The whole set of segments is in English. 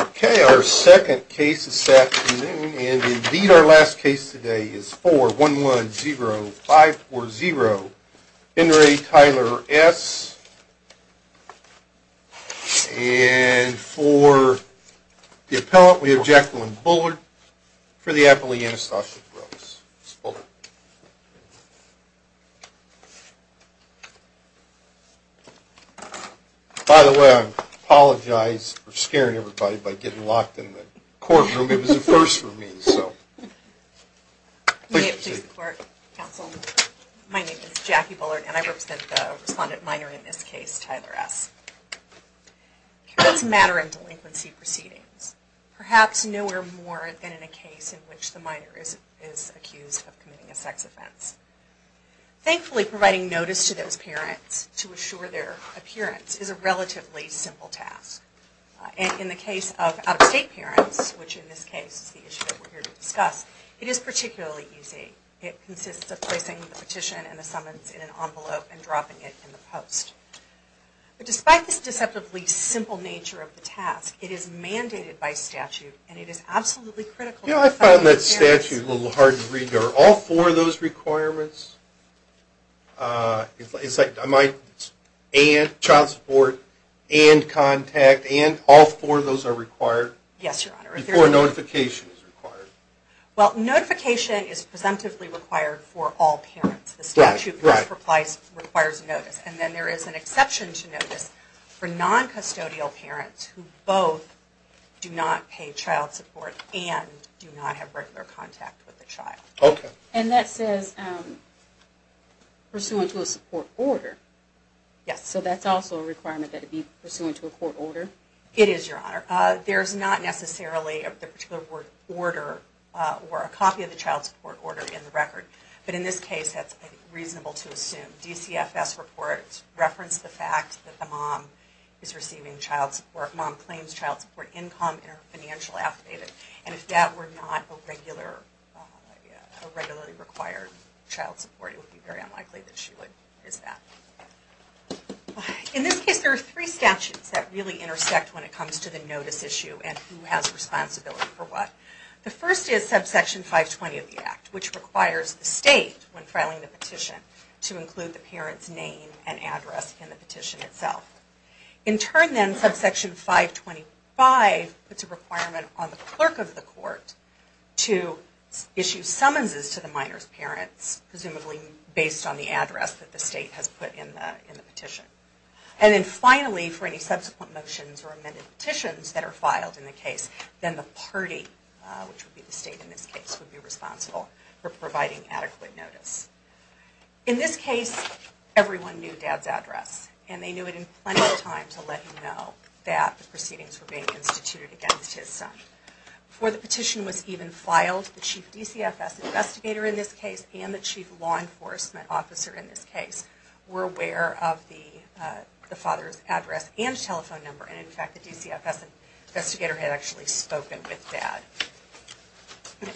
Okay, our second case is set and indeed our last case today is 4 1 1 0 5 4 0 Henry Tyler s And for the appellant we have Jacqueline Bullard for the Appalachian Astos Oh By the way, I apologize for scaring everybody by getting locked in the courtroom. It was a first for me, so My name is Jackie Bullard, and I represent the respondent minor in this case Tyler s That's matter in delinquency proceedings perhaps nowhere more than in a case in which the minor is is accused of committing a sex offense Thankfully providing notice to those parents to assure their appearance is a relatively simple task And in the case of out-of-state parents, which in this case is the issue We're here to discuss it is particularly easy it consists of placing the petition and the summons in an envelope and dropping it in the post But despite this deceptively simple nature of the task it is mandated by statute, and it is absolutely critical I found that statute a little hard to read or all for those requirements It's like I might and child support and Contact and all four of those are required. Yes, your honor before notification is required Well notification is presumptively required for all parents the statute applies requires notice And then there is an exception to notice for non custodial parents who both Do not pay child support and do not have regular contact with the child okay, and that says Pursuant to a support order Yes, so that's also a requirement that to be pursuant to a court order it is your honor There's not necessarily of the particular word order or a copy of the child support order in the record, but in this case Reasonable to assume DCFS reports reference the fact that the mom is receiving child support mom claims child support Income in her financial affidavit, and if that were not a regular Regularly required child support it would be very unlikely that she would is that In this case there are three statutes that really intersect when it comes to the notice issue and who has responsibility for what? The first is subsection 520 of the act which requires the state when filing the petition To include the parents name and address in the petition itself in turn then subsection 525 it's a requirement on the clerk of the court to issue summonses to the minors parents presumably based on the address that the state has put in the petition and Then finally for any subsequent motions or amended petitions that are filed in the case then the party Which would be the state in this case would be responsible for providing adequate notice in this case? Everyone knew dad's address, and they knew it in plenty of time to let you know that the proceedings were being instituted against his son Before the petition was even filed the chief DCFS investigator in this case and the chief law enforcement Officer in this case were aware of the the father's address and telephone number and in fact the DCFS Investigator had actually spoken with dad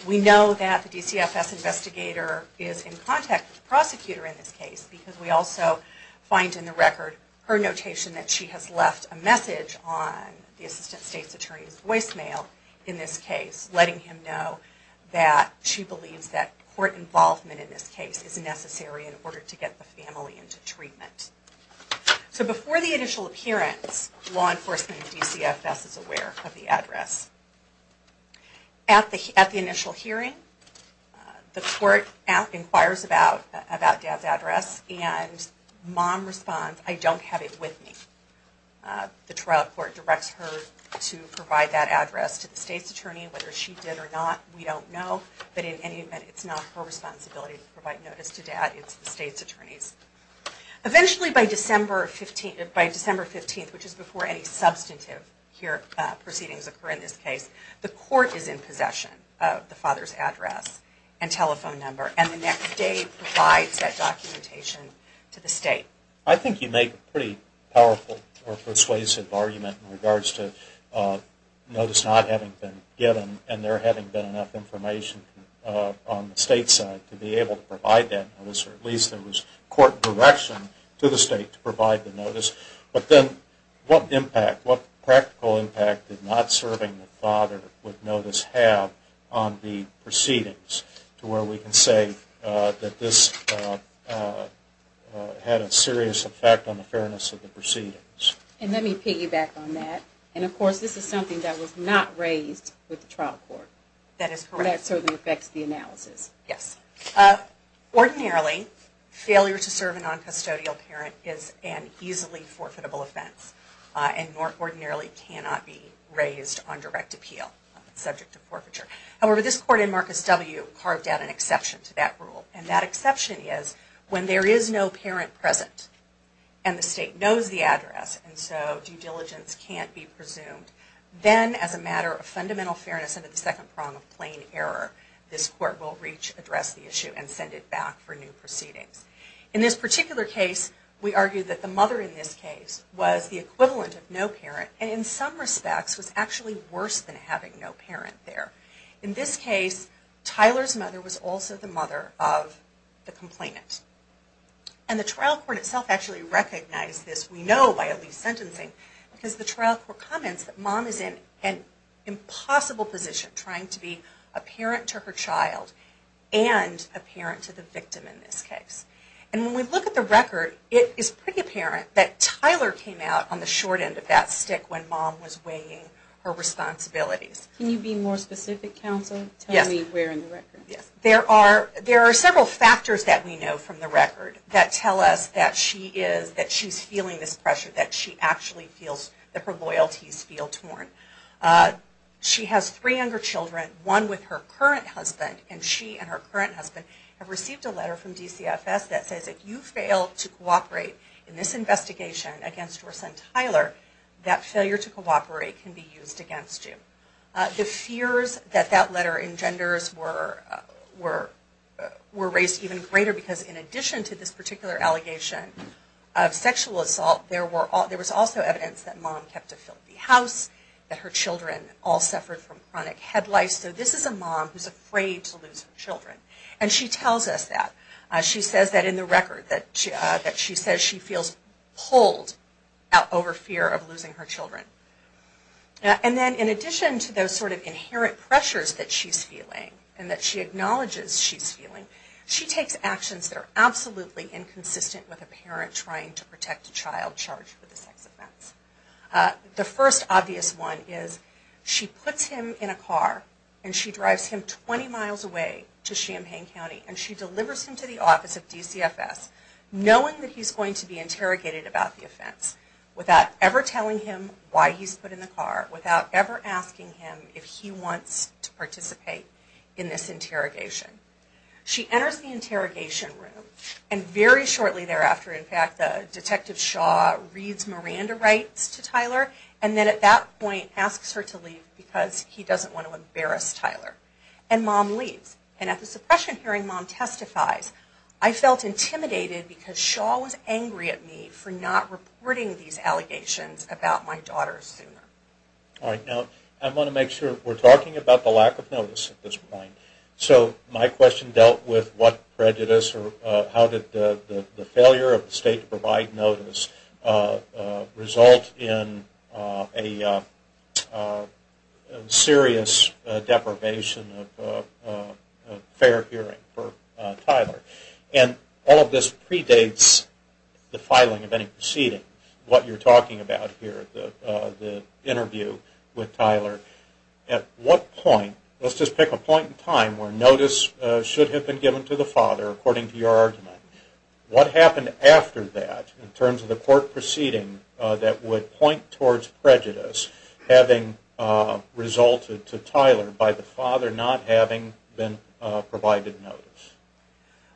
We know that the DCFS investigator is in contact prosecutor in this case because we also Find in the record her notation that she has left a message on The assistant state's attorney's voicemail in this case letting him know that She believes that court involvement in this case is necessary in order to get the family into treatment So before the initial appearance law enforcement DCFS is aware of the address at the at the initial hearing the court out inquires about about dad's address and Mom responds. I don't have it with me The trial court directs her to provide that address to the state's attorney whether she did or not We don't know but in any event. It's not her responsibility to provide notice to dad. It's the state's attorneys Eventually by December 15th by December 15th, which is before any substantive here proceedings occur in this case The court is in possession of the father's address and telephone number and the next day provides that documentation To the state. I think you make a pretty powerful or persuasive argument in regards to Notice not having been given and there having been enough information On the state side to be able to provide that at least there was court direction to the state to provide the notice but then what impact what practical impact did not serving father would notice have on the Proceedings to where we can say that this Had a serious effect on the fairness of the proceedings and let me piggyback on that and of course This is something that was not raised with the trial court. That is correct. So that affects the analysis. Yes ordinarily Failure to serve a non-custodial parent is an easily forfeitable offense And more ordinarily cannot be raised on direct appeal subject to forfeiture however, this court in Marcus W carved out an exception to that rule and that exception is when there is no parent present and The state knows the address and so due diligence can't be presumed Then as a matter of fundamental fairness under the second prong of plain error This court will reach address the issue and send it back for new proceedings in this particular case We argue that the mother in this case was the equivalent of no parent and in some respects was actually worse than having no parent there in this case Tyler's mother was also the mother of the complainant and the trial court itself actually recognized this we know by at least sentencing because the trial court comments that mom is in an impossible position trying to be a parent to her child and a parent to the victim in this case and when we look at the record it is pretty apparent that Tyler came out on the short end of that stick when mom was weighing her Responsibilities can you be more specific counsel? Yes, we're in the record There are there are several factors that we know from the record that tell us that she is that she's feeling this pressure that she Actually feels that her loyalties feel torn She has three younger children one with her current husband and she and her current husband have received a letter from DCFS That says if you fail to cooperate in this investigation against her son Tyler that failure to cooperate can be used against you The fears that that letter engenders were were Were raised even greater because in addition to this particular allegation of sexual assault there were all there was also evidence that mom kept a filthy house That her children all suffered from chronic head lice So this is a mom who's afraid to lose children and she tells us that She says that in the record that she that she says she feels pulled out over fear of losing her children And then in addition to those sort of inherent pressures that she's feeling and that she acknowledges she's feeling she takes actions They're absolutely inconsistent with a parent trying to protect a child charged with the sex offense the first obvious one is She puts him in a car and she drives him 20 miles away to Champaign County and she delivers him to the office of DCFS Knowing that he's going to be interrogated about the offense Without ever telling him why he's put in the car without ever asking him if he wants to participate in this interrogation She enters the interrogation room and very shortly thereafter In fact the detective Shaw reads Miranda rights to Tyler and then at that point Asks her to leave because he doesn't want to embarrass Tyler and mom leaves and at the suppression hearing mom testifies I felt intimidated because Shaw was angry at me for not reporting these allegations about my daughter's All right. No, I want to make sure we're talking about the lack of notice at this point So my question dealt with what prejudice or how did the failure of the state provide notice? result in a Serious deprivation of Tyler and all of this predates The filing of any proceeding what you're talking about here the the interview with Tyler at what point? Let's just pick a point in time where notice should have been given to the father according to your argument What happened after that in terms of the court proceeding that would point towards prejudice having? Resulted to Tyler by the father not having been provided notice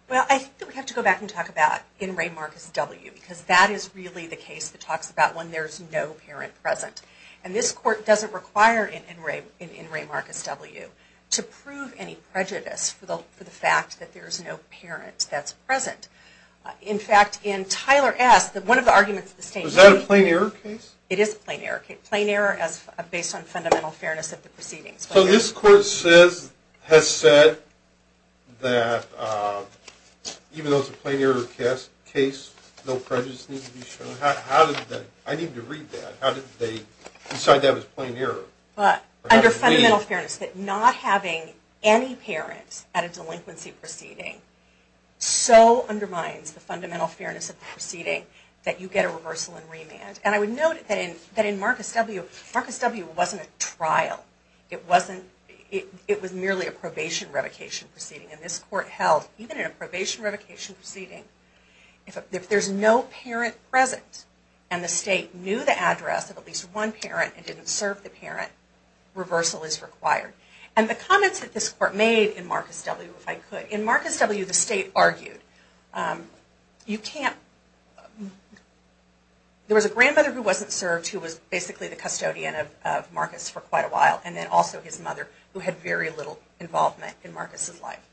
Well, I think we have to go back and talk about in Ray Marcus W because that is really the case that talks about when there's no parent present and this court doesn't require in Ray in Ray Marcus W to prove any prejudice for the for the fact that there's no parent that's present In fact in Tyler asked that one of the arguments the state was that a plain error case It is a plain error case plain error as based on fundamental fairness of the proceedings, so this court says has said that Even though it's a plain error case case no prejudice How did that I need to read that how did they decide that was plain error? But under fundamental fairness that not having any parents at a delinquency proceeding So undermines the fundamental fairness of the proceeding that you get a reversal and remand And I would note that in that in Marcus W Marcus W wasn't a trial It wasn't it was merely a probation revocation proceeding and this court held even in a probation revocation proceeding If there's no parent present and the state knew the address of at least one parent and didn't serve the parent Reversal is required and the comments that this court made in Marcus W if I could in Marcus W the state argued You can't There was a grandmother who wasn't served who was basically the custodian of Marcus for quite a while and then also his mother who had very little involvement in Marcus's life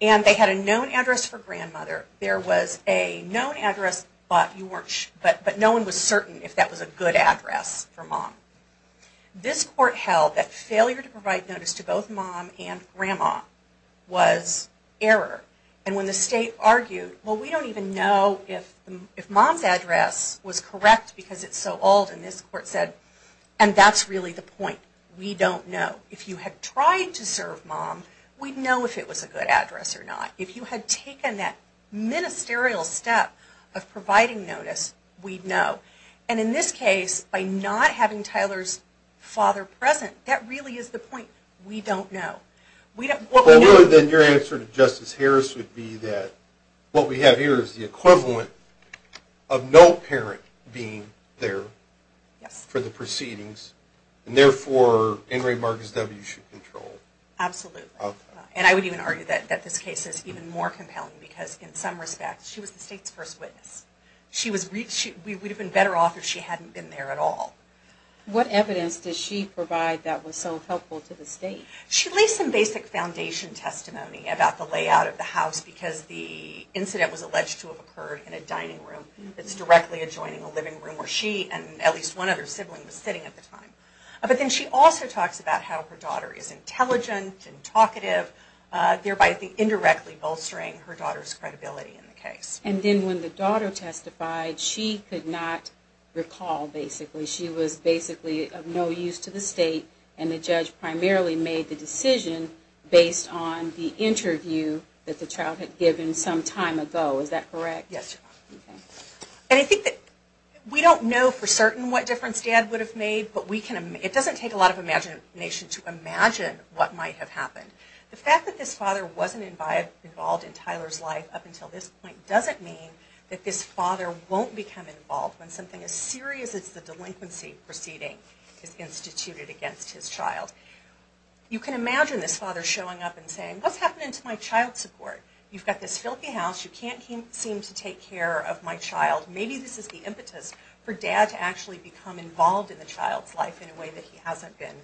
And they had a known address for grandmother There was a known address, but you weren't but but no one was certain if that was a good address for mom This court held that failure to provide notice to both mom and grandma Was error and when the state argued well we don't even know if if mom's address was correct because it's so old and this court said and That's really the point. We don't know if you had tried to serve mom We'd know if it was a good address or not if you had taken that Ministerial step of providing notice we'd know and in this case by not having Tyler's Father present that really is the point we don't know we don't know then your answer to Justice Harris would be that What we have here is the equivalent of no parent being there For the proceedings and therefore in Ray Marcus W should control And I would even argue that that this case is even more compelling because in some respects she was the state's first witness She was reached we would have been better off if she hadn't been there at all What evidence does she provide that was so helpful to the state? She leaves some basic foundation testimony about the layout of the house because the incident was alleged to have occurred in a dining room It's directly adjoining a living room where she and at least one other sibling was sitting at the time But then she also talks about how her daughter is intelligent and talkative Thereby the indirectly bolstering her daughter's credibility in the case and then when the daughter testified she could not Recall basically she was basically of no use to the state and the judge primarily made the decision Based on the interview that the child had given some time ago. Is that correct? Yes And I think that we don't know for certain what difference dad would have made But we can it doesn't take a lot of imagination to imagine what might have happened The fact that this father wasn't invited involved in Tyler's life up until this point doesn't mean that this father won't become involved When something as serious as the delinquency proceeding is instituted against his child You can imagine this father showing up and saying what's happening to my child support. You've got this filthy house You can't seem to take care of my child Maybe this is the impetus for dad to actually become involved in the child's life in a way that he hasn't been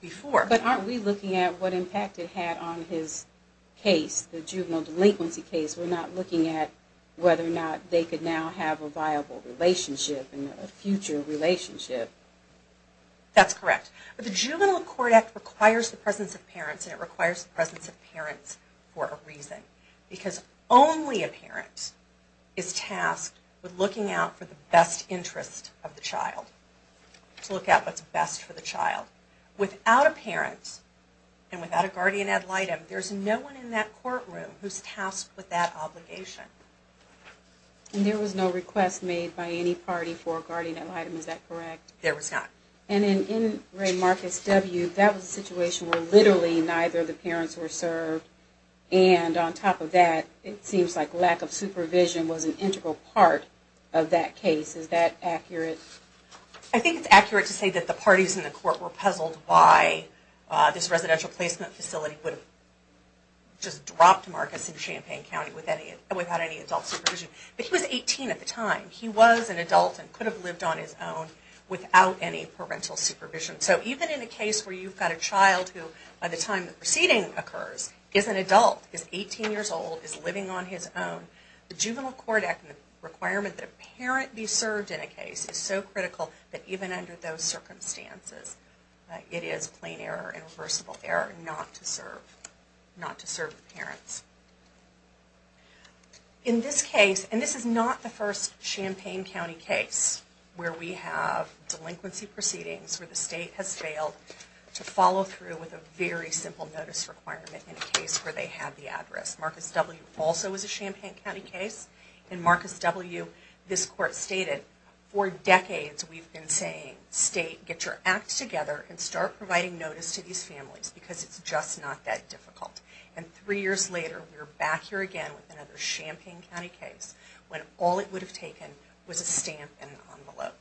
Before but aren't we looking at what impact it had on his case the juvenile delinquency case? We're not looking at whether or not they could now have a viable relationship and a future relationship That's correct But the juvenile court act requires the presence of parents and it requires the presence of parents for a reason because only a parent Is tasked with looking out for the best interest of the child? To look at what's best for the child without a parent and without a guardian ad litem There's no one in that courtroom who's tasked with that obligation And there was no request made by any party for a guardian ad litem. Is that correct? There was not and in in Ray Marcus W That was a situation where literally neither of the parents were served and on top of that It seems like lack of supervision was an integral part of that case. Is that accurate? I think it's accurate to say that the parties in the court were puzzled by this residential placement facility would Just drop to Marcus in Champaign County with any without any adult supervision But he was 18 at the time he was an adult and could have lived on his own without any parental supervision So even in a case where you've got a child who by the time the proceeding occurs is an adult is 18 years old is living On his own the juvenile court act and the requirement that a parent be served in a case is so critical that even under those Circumstances it is plain error and reversible error not to serve not to serve the parents In This case and this is not the first Champaign County case where we have Delinquency proceedings where the state has failed to follow through with a very simple notice requirement in a case where they had the address Marcus W also was a Champaign County case in Marcus W. This court stated for decades We've been saying state get your acts together and start providing notice to these families because it's just not that difficult And three years later, we're back here again with another Champaign County case when all it would have taken was a stamp and envelope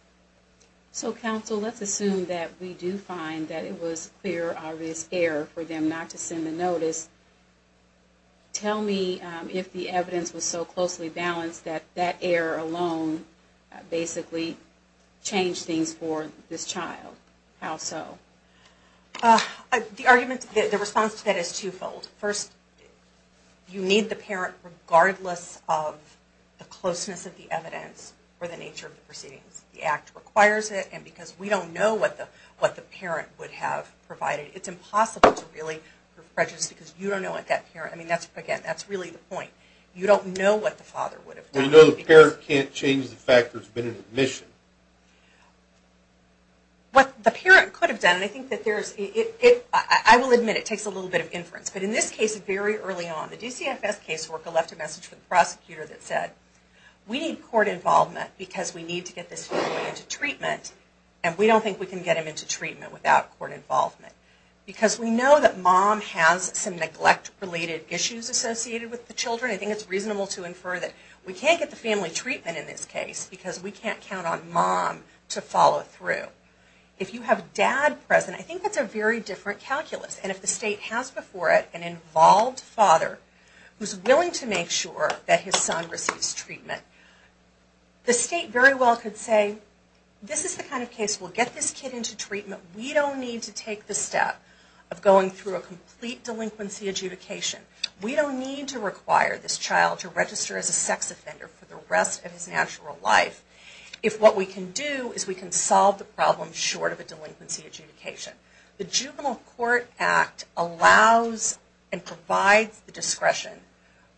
So counsel, let's assume that we do find that it was clear obvious error for them not to send the notice Tell me if the evidence was so closely balanced that that error alone basically Changed things for this child how so? The argument the response to that is twofold first You need the parent regardless of the closeness of the evidence or the nature of the proceedings The act requires it and because we don't know what the what the parent would have provided It's impossible to really prejudice because you don't know what that parent. I mean, that's again. That's really the point You don't know what the father would have no hair can't change the factors been in admission What the parent could have done I think that there's it I will admit it takes a little bit of inference But in this case very early on the DCFS caseworker left a message for the prosecutor that said We need court involvement because we need to get this into treatment And we don't think we can get him into treatment without court involvement Because we know that mom has some neglect related issues associated with the children I think it's reasonable to infer that we can't get the family treatment in this case because we can't count on mom To follow through if you have dad present I think that's a very different calculus and if the state has before it an involved father Who's willing to make sure that his son receives treatment? The state very well could say this is the kind of case. We'll get this kid into treatment We don't need to take the step of going through a complete delinquency adjudication We don't need to require this child to register as a sex offender for the rest of his natural life If what we can do is we can solve the problem short of a delinquency adjudication the juvenile Court Act allows and provides the discretion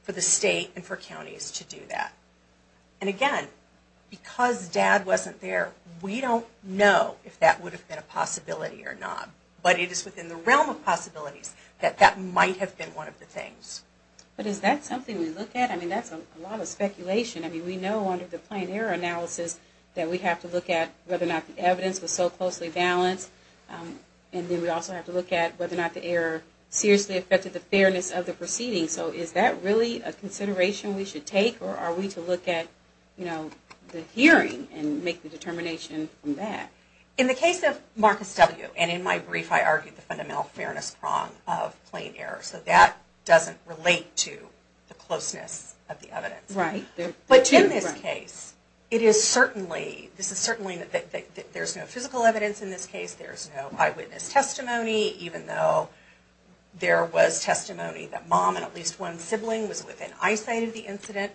for the state and for counties to do that and again Because dad wasn't there we don't know if that would have been a possibility or not But it is within the realm of possibilities that that might have been one of the things But is that something we look at I mean, that's a lot of speculation I mean we know under the plain error analysis that we have to look at whether or not the evidence was so closely balanced And then we also have to look at whether or not the error Seriously affected the fairness of the proceeding so is that really a consideration? We should take or are we to look at you know the hearing and make the determination from that in the case of Marcus W and in my brief I argued the fundamental fairness prong of plain error so that doesn't relate to The closeness of the evidence right there, but in this case it is certainly This is certainly that there's no physical evidence in this case. There's no eyewitness testimony even though There was testimony that mom and at least one sibling was within eyesight of the incident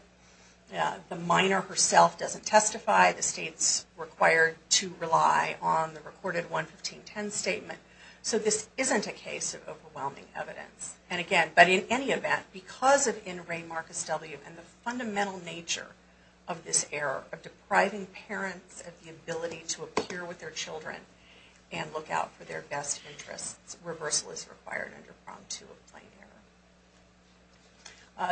The minor herself doesn't testify the state's required to rely on the recorded 115 10 statement so this isn't a case of overwhelming evidence and again, but in any event because of in rain Marcus W and the fundamental nature of this error of depriving parents of the ability to appear with their children and Look out for their best interests reversal is required under prompt to a plane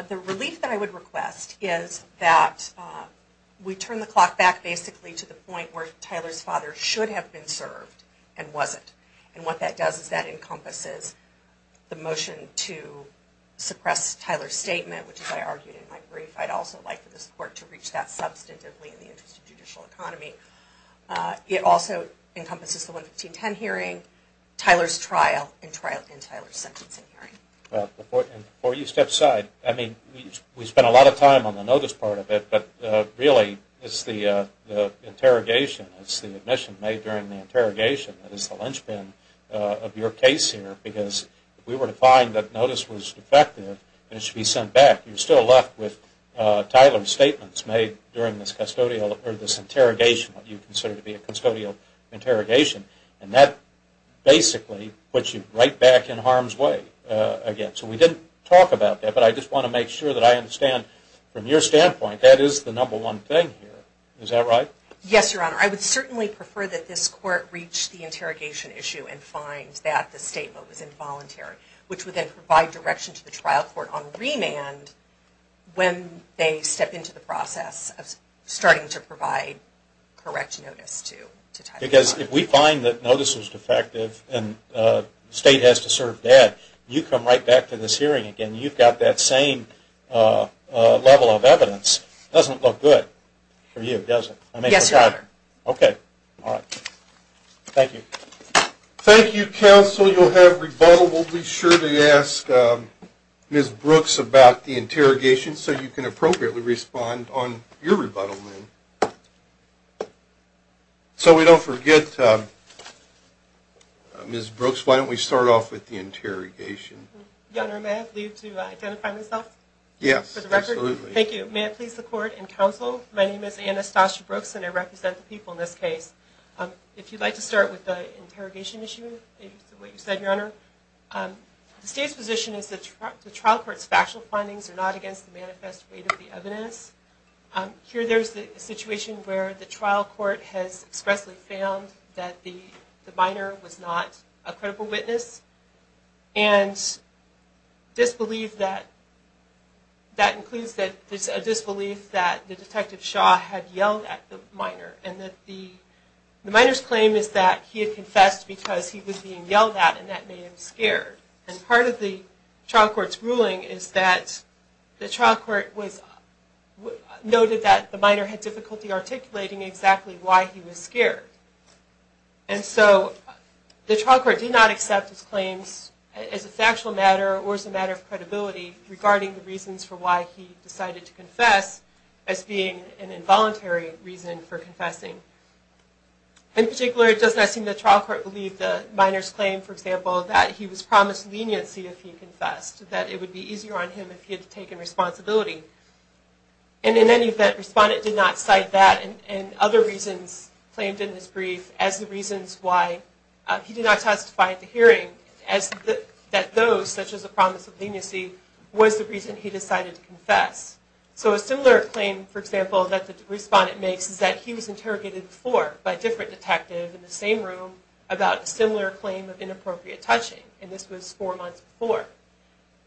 The Relief that I would request is that We turn the clock back basically to the point where Tyler's father should have been served and wasn't and what that does is that encompasses? the motion to Suppress Tyler's statement, which is I argued in my brief. I'd also like for the support to reach that substantively in the interest of judicial economy It also encompasses the 115 10 hearing Tyler's trial and trial in Tyler's sentencing hearing Before you step side. I mean we spent a lot of time on the notice part of it, but really it's the Interrogation it's the admission made during the interrogation That is the linchpin of your case here because we were to find that notice was defective And it should be sent back you're still left with Tyler's statements made during this custodial or this interrogation what you consider to be a custodial Interrogation and that Basically puts you right back in harm's way Again, so we didn't talk about that, but I just want to make sure that I understand from your standpoint That is the number one thing here. Is that right? Yes, your honor I would certainly prefer that this court reached the interrogation issue and finds that the statement was involuntary Which would then provide direction to the trial court on remand? When they step into the process of starting to provide Correction notice to because if we find that notice was defective and State has to serve dad you come right back to this hearing again. You've got that same Level of evidence doesn't look good for you. It doesn't yes, sir. Okay, all right Thank you Thank you counsel. You'll have rebuttal. We'll be sure to ask Miss Brooks about the interrogation so you can appropriately respond on your rebuttal So we don't forget Miss Brooks, why don't we start off with the interrogation? Yes, thank you, man, please the court and counsel my name is Anastasia Brooks and I represent the people in this case If you'd like to start with the interrogation issue The state's position is that the trial courts factual findings are not against the manifest weight of the evidence Here there's the situation where the trial court has expressly found that the the minor was not a credible witness and Disbelief that that includes that there's a disbelief that the detective Shaw had yelled at the minor and that the Minors claim is that he had confessed because he was being yelled at and that made him scared and part of the trial courts ruling is that the trial court was Noted that the minor had difficulty articulating exactly why he was scared and so The trial court did not accept his claims as a factual matter or as a matter of credibility Regarding the reasons for why he decided to confess as being an involuntary reason for confessing In particular it does not seem the trial court believed the minors claim for example that he was promised leniency if he confessed that it would Be easier on him if he had taken responsibility and in any event respondent did not cite that and other reasons claimed in this brief as the reasons why He did not testify at the hearing as that those such as a promise of leniency Was the reason he decided to confess? So a similar claim for example that the respondent makes is that he was interrogated before by different detective in the same room about a similar claim of inappropriate touching and this was four months before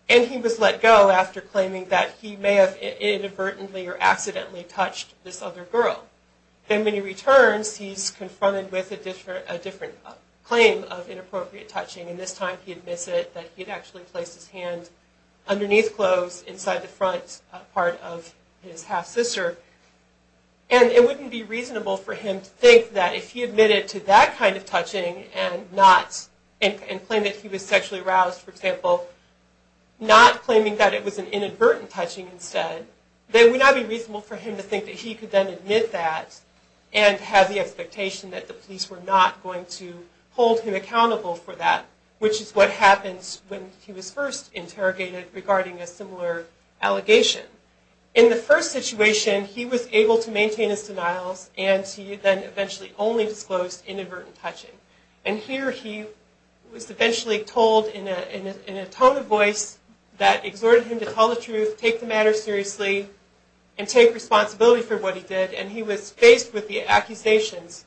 and He was let go after claiming that he may have inadvertently or accidentally touched this other girl And when he returns he's confronted with a different a different claim of inappropriate touching and this time he admits it that he'd actually placed his hand underneath clothes inside the front part of his half-sister and It wouldn't be reasonable for him to think that if he admitted to that kind of touching and not And claim that he was sexually aroused for example Not claiming that it was an inadvertent touching instead they would not be reasonable for him to think that he could then admit that and Have the expectation that the police were not going to hold him accountable for that Which is what happens when he was first interrogated regarding a similar Allegation in the first situation he was able to maintain his denials And he then eventually only disclosed inadvertent touching and here He was eventually told in a tone of voice that exhorted him to tell the truth take the matter seriously and Take responsibility for what he did and he was faced with the accusations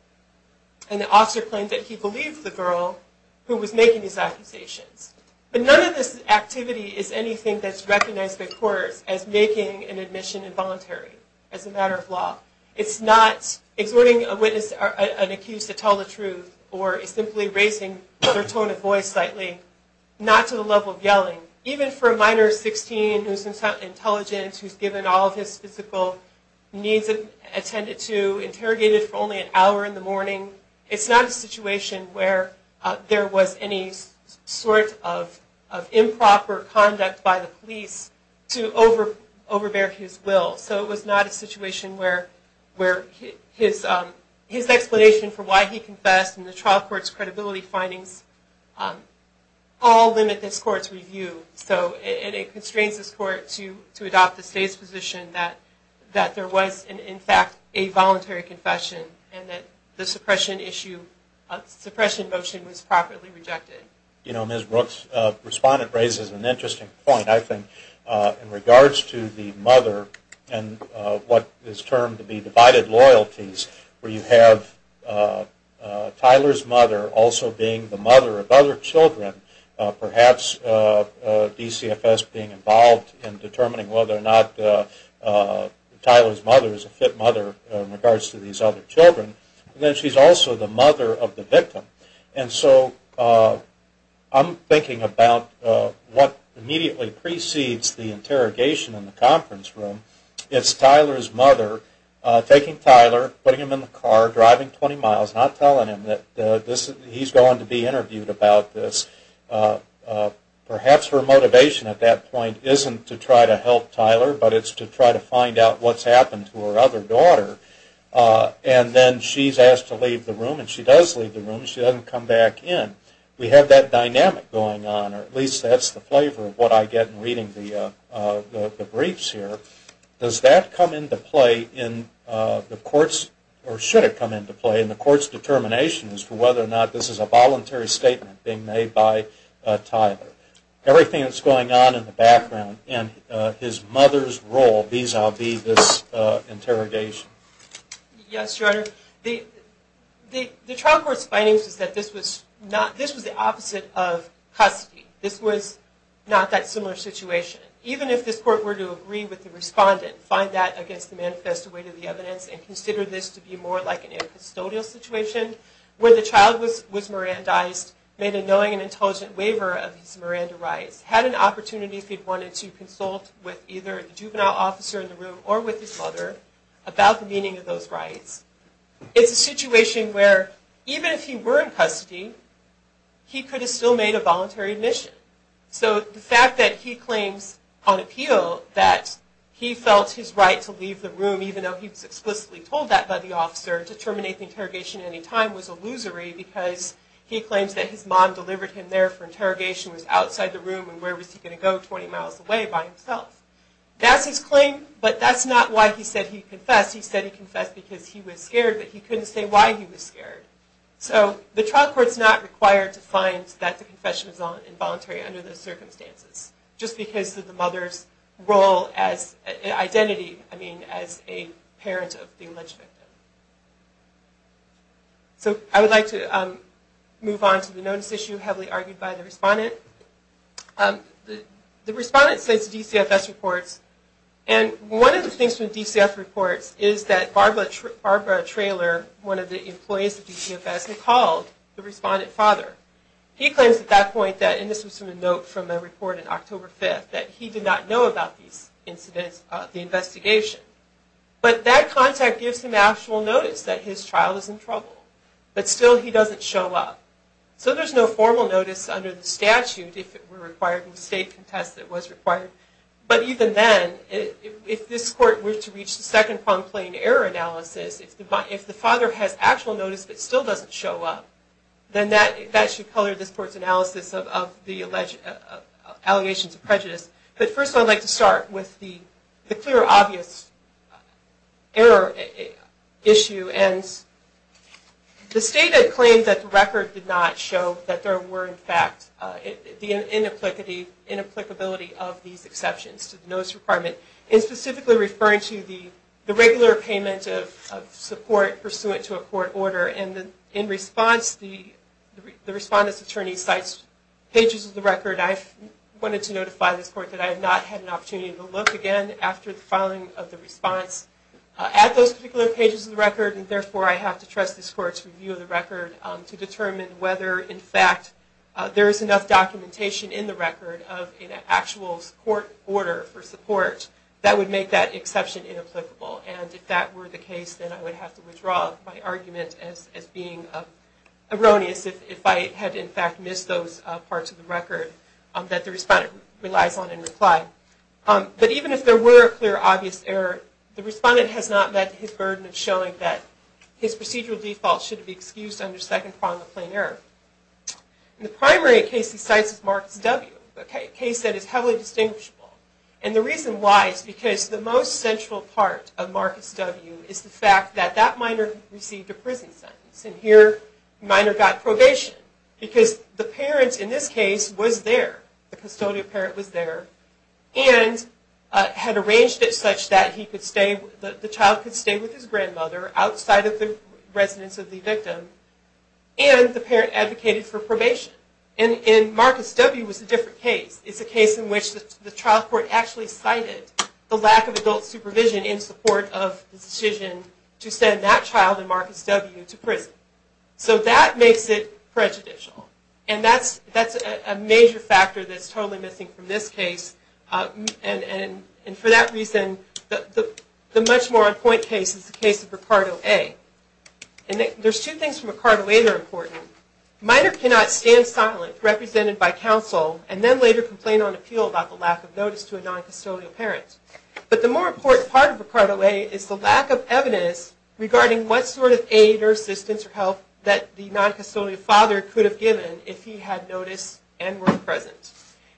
And the officer claimed that he believed the girl who was making these accusations But none of this activity is anything that's recognized by courts as making an admission involuntary as a matter of law It's not exhorting a witness or an accused to tell the truth, or it's simply raising their tone of voice slightly Not to the level of yelling even for a minor 16 who's in some intelligence. Who's given all of his physical Needs and attended to interrogated for only an hour in the morning. It's not a situation where there was any sort of improper conduct by the police to over overbear his will so it was not a situation where His his explanation for why he confessed and the trial courts credibility findings All limit this court's review So it constrains this court to to adopt the state's position that that there was in fact a voluntary Confession and that the suppression issue Suppression motion was properly rejected. You know miss Brooks Respondent raises an interesting point. I think in regards to the mother and What is termed to be divided loyalties where you have? Tyler's mother also being the mother of other children perhaps DCFS being involved in determining whether or not Tyler's mother is a fit mother in regards to these other children, and then she's also the mother of the victim and so I'm thinking about What immediately precedes the interrogation in the conference room, it's Tyler's mother Taking Tyler putting him in the car driving 20 miles not telling him that this he's going to be interviewed about this Perhaps her motivation at that point isn't to try to help Tyler, but it's to try to find out What's happened to her other daughter? And then she's asked to leave the room and she does leave the room Come back in we have that dynamic going on or at least that's the flavor of what I get in reading the Briefs here does that come into play in? The courts or should it come into play in the courts determination as to whether or not this is a voluntary statement being made by Tyler everything that's going on in the background and his mother's role these I'll be this interrogation Yes, your honor the The trial court's findings is that this was not this was the opposite of custody this was not that similar situation even if this court were to agree with the Respondent find that against the manifest away to the evidence and consider this to be more like an incustodial situation Where the child was was Miran dies made a knowing and intelligent waiver of his Miranda rights had an opportunity if he'd wanted to consult With either the juvenile officer in the room or with his mother about the meaning of those rights It's a situation where even if he were in custody He could have still made a voluntary admission So the fact that he claims on appeal that He felt his right to leave the room even though he was explicitly told that by the officer to terminate the interrogation Anytime was illusory because he claims that his mom delivered him there for interrogation was outside the room And where was he going to go 20 miles away by himself? That's his claim, but that's not why he said he confessed He said he confessed because he was scared, but he couldn't say why he was scared So the trial court's not required to find that the confession is on involuntary under those circumstances Just because of the mother's role as Identity I mean as a parent of the alleged victim So I would like to move on to the notice issue heavily argued by the respondent The respondent says DCFS reports and One of the things from DCF reports is that Barbara Barbara trailer one of the employees of DCFS and called the respondent father He claims at that point that in this was from a note from a report in October 5th that he did not know about these incidents the investigation But that contact gives him actual notice that his trial is in trouble, but still he doesn't show up So there's no formal notice under the statute if it were required in the state contest that was required But even then if this court were to reach the second prong plane error analysis It's the but if the father has actual notice, but still doesn't show up Then that that should color this court's analysis of the alleged Allegations of prejudice, but first I'd like to start with the the clear obvious error issue and The state had claimed that the record did not show that there were in fact the in applicability in applicability of these exceptions to the notice requirement in specifically referring to the regular payment of Support pursuant to a court order and in response the the respondent's attorney sites pages of the record I've wanted to notify this court that I have not had an opportunity to look again after the filing of the response At those particular pages of the record and therefore I have to trust this court's review of the record to determine whether in fact There is enough documentation in the record of an actual support order for support that would make that exception in applicable and if that were the case then I would have to withdraw my argument as being a Erroneous if I had in fact missed those parts of the record that the respondent relies on in reply But even if there were a clear obvious error the respondent has not met his burden of showing that His procedural default should be excused under second prong of plain error the primary case he cites is Marcus W. Okay case that is heavily distinguishable and the reason why it's because the most central part of Marcus W. Is the fact that that minor received a prison sentence and here minor got probation Because the parents in this case was there the custodian parent was there and Had arranged it such that he could stay the child could stay with his grandmother outside of the residence of the victim And the parent advocated for probation and in Marcus W. Was a different case It's a case in which the trial court actually cited the lack of adult supervision in support of the decision To send that child in Marcus W. to prison so that makes it Prejudicial and that's that's a major factor. That's totally missing from this case And and and for that reason the the much more on-point case is the case of Ricardo a and There's two things from a car later important minor cannot stand silent Represented by counsel and then later complain on appeal about the lack of notice to a non-custodial parents But the more important part of the cart away is the lack of evidence Regarding what sort of aid or assistance or help that the non-custodial father could have given if he had notice and were present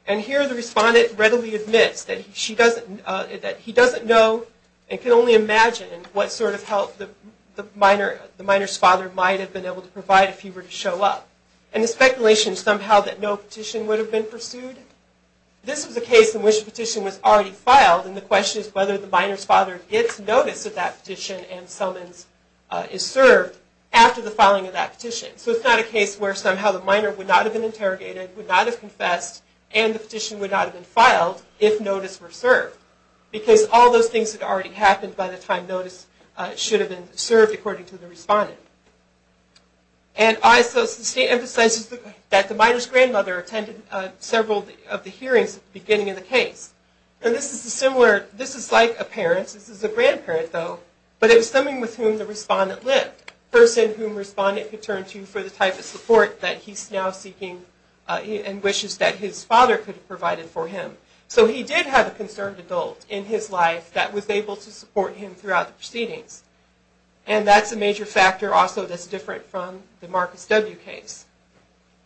and Here the respondent readily admits that she doesn't that he doesn't know and can only imagine What sort of help the the minor the minors father might have been able to provide if he were to show up and the speculation? Somehow that no petition would have been pursued This is a case in which petition was already filed and the question is whether the miners father gets notice of that petition And summons is served after the filing of that petition So it's not a case where somehow the minor would not have been interrogated would not have confessed and the petition would not have been filed If notice were served because all those things had already happened by the time notice should have been served according to the respondent and Isos the state emphasizes that the miners grandmother attended several of the hearings beginning in the case And this is the similar. This is like a parents Grandparent though But it was something with whom the respondent lived person whom respondent could turn to for the type of support that he's now seeking And wishes that his father could have provided for him so he did have a concerned adult in his life that was able to support him throughout the proceedings and that's a major factor also that's different from the Marcus W case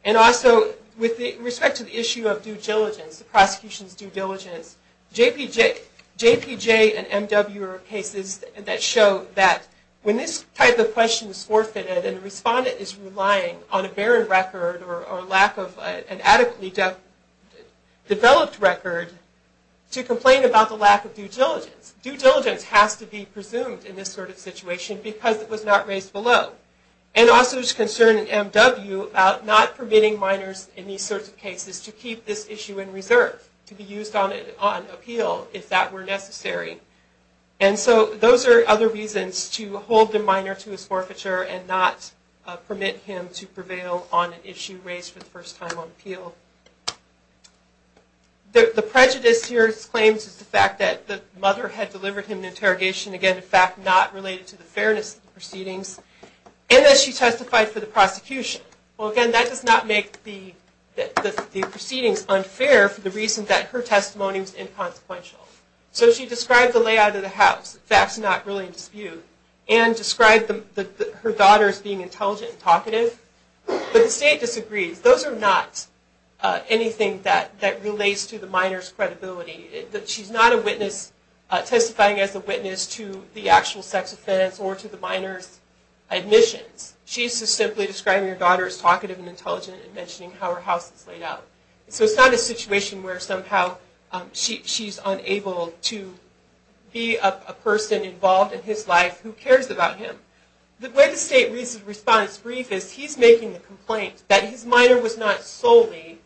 and Also with the respect to the issue of due diligence the prosecution's due diligence JPJ JPJ and MW are cases that show that when this type of question is forfeited and respondent is relying on a Barren record or lack of an adequately deaf developed record to complain about the lack of due diligence due diligence has to be presumed in this sort of situation because it was not raised below and Also is concerned in MW about not permitting miners in these sorts of cases to keep this issue in reserve to be used on it on appeal if that were necessary and So those are other reasons to hold the minor to his forfeiture and not Permit him to prevail on an issue raised for the first time on appeal The prejudice here's claims is the fact that the mother had delivered him an interrogation again in fact not related to the fairness proceedings And that she testified for the prosecution Well again that does not make the Proceedings unfair for the reason that her testimony was inconsequential so she described the layout of the house that's not really in dispute and Described them that her daughter's being intelligent talkative, but the state disagrees those are not Anything that that relates to the miners credibility that she's not a witness Testifying as a witness to the actual sex offense or to the miners Admissions she's just simply describing her daughter's talkative and intelligent and mentioning how her house is laid out So it's not a situation where somehow She's unable to Be a person involved in his life who cares about him the way the state reason response brief is he's making the complaint That his minor was not solely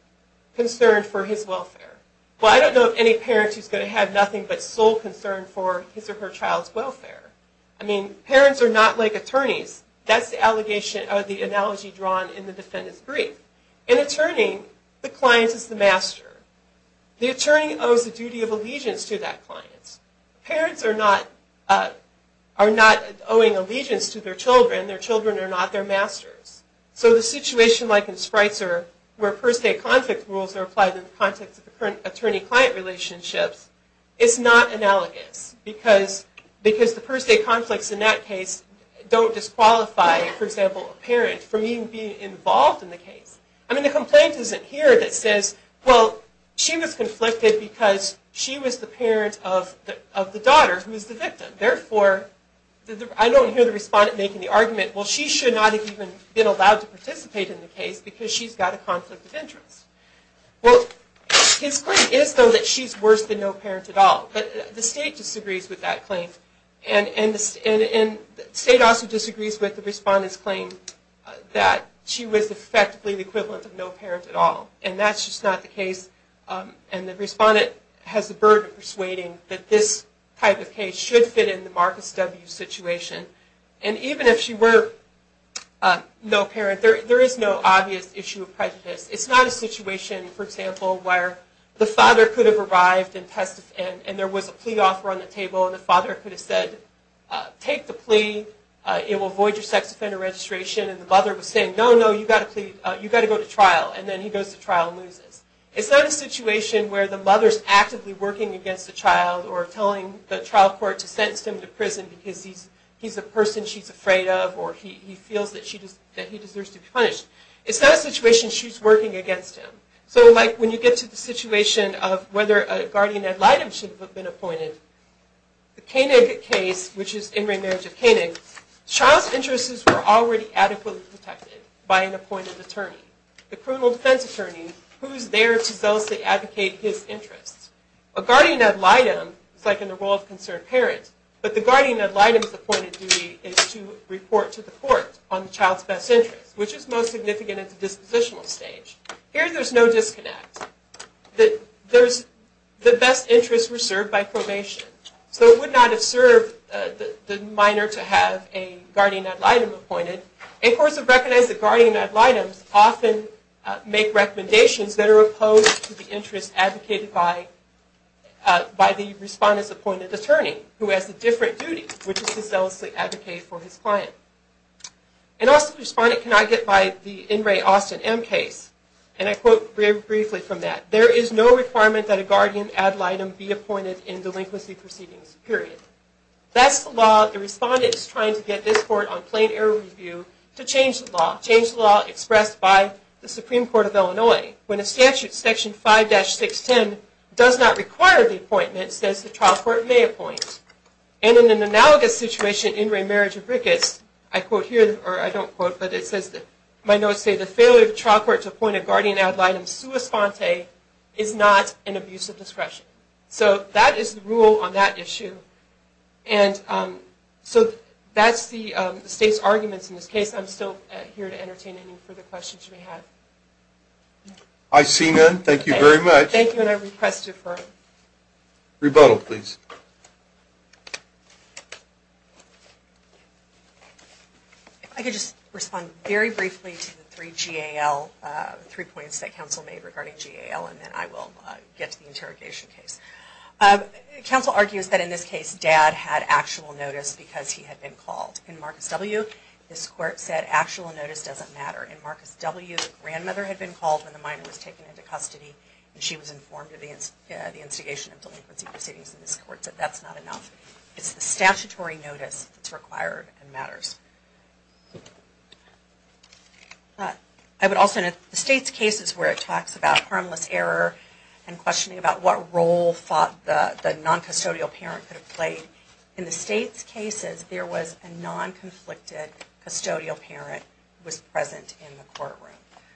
Concerned for his welfare Well, I don't know of any parents who's going to have nothing but sole concern for his or her child's welfare I mean parents are not like attorneys That's the allegation of the analogy drawn in the defendant's brief an attorney the client is the master The attorney owes the duty of allegiance to that clients parents are not Are not owing allegiance to their children their children are not their masters So the situation like in sprites are where first a conflict rules are applied in the context of the current attorney-client relationships It's not analogous because Because the first day conflicts in that case don't disqualify for example a parent for me being involved in the case I mean the complaint isn't here that says well She was conflicted because she was the parent of the of the daughter who is the victim therefore? I don't hear the respondent making the argument well She should not have even been allowed to participate in the case because she's got a conflict of interest Well his claim is though that she's worse than no parent at all, but the state disagrees with that claim and And in the state also disagrees with the respondents claim That she was effectively the equivalent of no parent at all, and that's just not the case And the respondent has the burden of persuading that this type of case should fit in the Marcus W situation and even if she were No parent there, there is no obvious issue of prejudice It's not a situation for example where the father could have arrived and tested and there was a plea offer on the table and the father could have said Take the plea it will void your sex offender registration and the mother was saying no No, you got a plea you got to go to trial and then he goes to trial loses It's not a situation where the mother's actively working against the child or telling the trial court to sentence him to prison because he's A person she's afraid of or he feels that she does that he deserves to be punished. It's not a situation She's working against him, so like when you get to the situation of whether a guardian ad litem should have been appointed The Koenig case which is in remarriage of Koenig child's interests were already adequately protected by an appointed attorney The criminal defense attorney who's there to zealously advocate his interests a guardian ad litem It's like in the role of concerned parents But the guardian ad litem is appointed duty is to report to the court on the child's best interest Which is most significant at the dispositional stage here. There's no disconnect That there's the best interest reserved by probation So it would not have served the minor to have a guardian ad litem appointed and courts have recognized that guardian ad litems often make recommendations that are opposed to the interest advocated by By the respondents appointed attorney who has a different duty which is to zealously advocate for his client And also the respondent cannot get by the in re Austin M case and I quote very briefly from that There is no requirement that a guardian ad litem be appointed in delinquency proceedings period That's the law the respondent is trying to get this court on plain error review to change the law change the law Does not require the appointment says the trial court may appoint and in an analogous situation in remarriage of Ricketts I quote here or I don't quote but it says that my notes say the failure of the trial court to point a guardian ad litem Sua sponte is not an abuse of discretion. So that is the rule on that issue and So that's the state's arguments in this case, I'm still here to entertain any further questions you may have I Rebuttal, please I Could just respond very briefly to the three GAL Three points that council made regarding GAL and then I will get to the interrogation case Council argues that in this case dad had actual notice because he had been called in Marcus W This court said actual notice doesn't matter in Marcus W Grandmother had been called when the minor was taken into custody and she was informed against the instigation of delinquency proceedings in this court So that's not enough. It's the statutory notice. It's required and matters But I would also know the state's cases where it talks about harmless error and Questioning about what role fought the the non custodial parent could have played in the state's cases. There was a non conflicted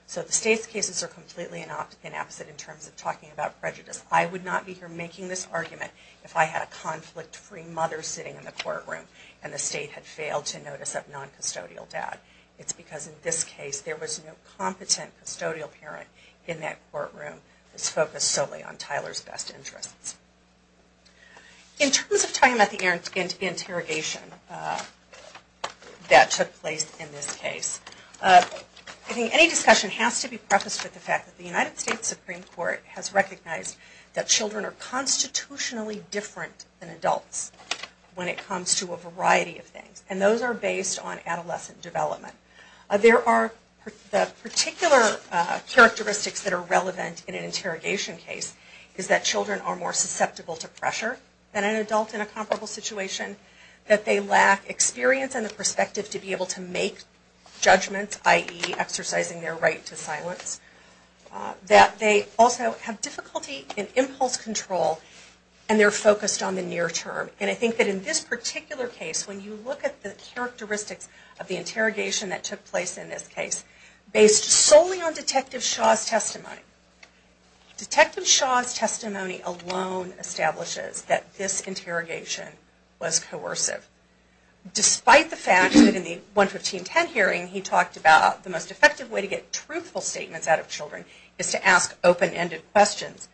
So the state's cases are completely in opposite in terms of talking about prejudice I would not be here making this argument if I had a conflict free mother sitting in the courtroom and the state had failed to Notice of non custodial dad. It's because in this case there was no competent custodial parent in that courtroom It's focused solely on Tyler's best interests in terms of time at the interrogation That took place in this case I think any discussion has to be prefaced with the fact that the United States Supreme Court has recognized that children are constitutionally different than adults When it comes to a variety of things and those are based on adolescent development. There are the particular Characteristics that are relevant in an interrogation case is that children are more susceptible to pressure than an adult in a comparable situation That they lack experience and the perspective to be able to make Judgments ie exercising their right to silence That they also have difficulty in impulse control and they're focused on the near term And I think that in this particular case when you look at the characteristics of the interrogation that took place in this case based solely on Detective Shaw's testimony Detective Shaw's testimony alone establishes that this interrogation was coercive Despite the fact that in the 11510 hearing he talked about the most effective way to get truthful statements out of children is to ask open-ended questions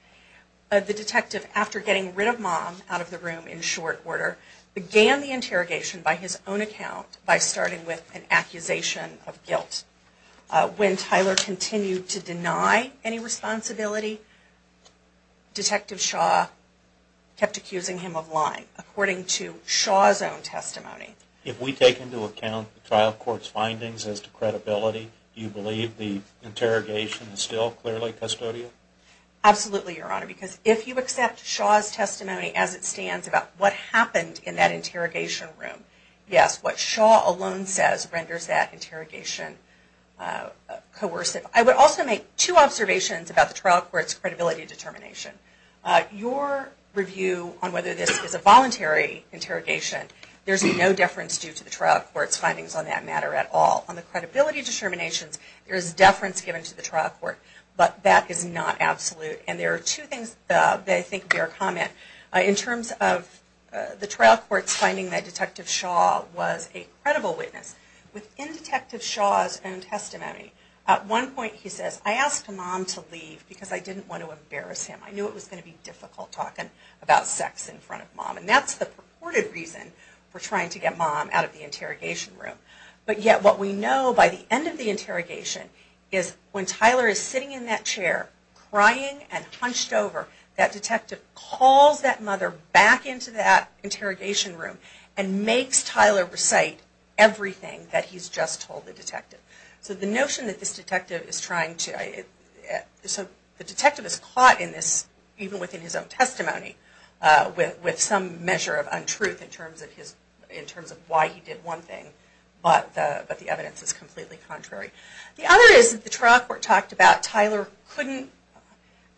The detective after getting rid of mom out of the room in short order Began the interrogation by his own account by starting with an accusation of guilt When Tyler continued to deny any responsibility Detective Shaw Kept accusing him of lying according to Shaw's own testimony If we take into account the trial courts findings as to credibility, do you believe the interrogation is still clearly custodial? Absolutely, your honor because if you accept Shaw's testimony as it stands about what happened in that interrogation room Yes, what Shaw alone says renders that interrogation Coercive I would also make two observations about the trial courts credibility determination Your review on whether this is a voluntary interrogation There's no deference due to the trial courts findings on that matter at all on the credibility determinations There's deference given to the trial court, but that is not absolute and there are two things They think their comment in terms of the trial courts finding that Detective Shaw was a credible witness Within Detective Shaw's own testimony at one point He says I asked him on to leave because I didn't want to embarrass him I knew it was going to be difficult talking about sex in front of mom And that's the purported reason for trying to get mom out of the interrogation room But yet what we know by the end of the interrogation is when Tyler is sitting in that chair Crying and hunched over that detective calls that mother back into that interrogation room and makes Tyler recite Everything that he's just told the detective so the notion that this detective is trying to So the detective is caught in this even within his own testimony With with some measure of untruth in terms of his in terms of why he did one thing But but the evidence is completely contrary the other is the trial court talked about Tyler couldn't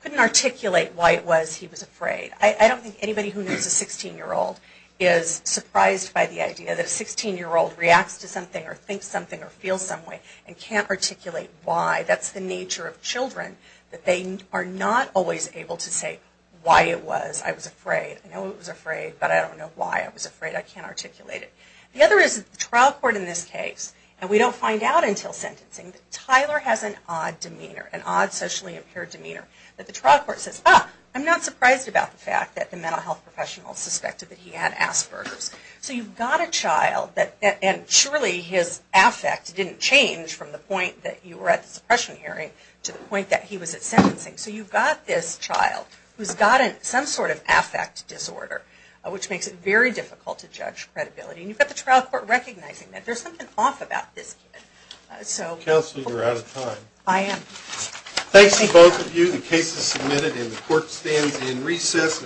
Couldn't articulate why it was he was afraid. I don't think anybody who needs a 16 year old is Surprised by the idea that a 16 year old reacts to something or think something or feel some way and can't articulate Why that's the nature of children that they are not always able to say why it was I was afraid No, it was afraid, but I don't know why I was afraid I can't articulate it the other is trial court in this case And we don't find out until sentencing Tyler has an odd demeanor an odd socially impaired demeanor that the trial court says I'm not surprised about the fact that the mental health professional suspected that he had Asperger's So you've got a child that and surely his affect didn't change from the point that you were at the suppression hearing To the point that he was at sentencing so you've got this child who's got it some sort of affect disorder Which makes it very difficult to judge credibility, and you've got the trial court recognizing that there's something off about this so Stands in recess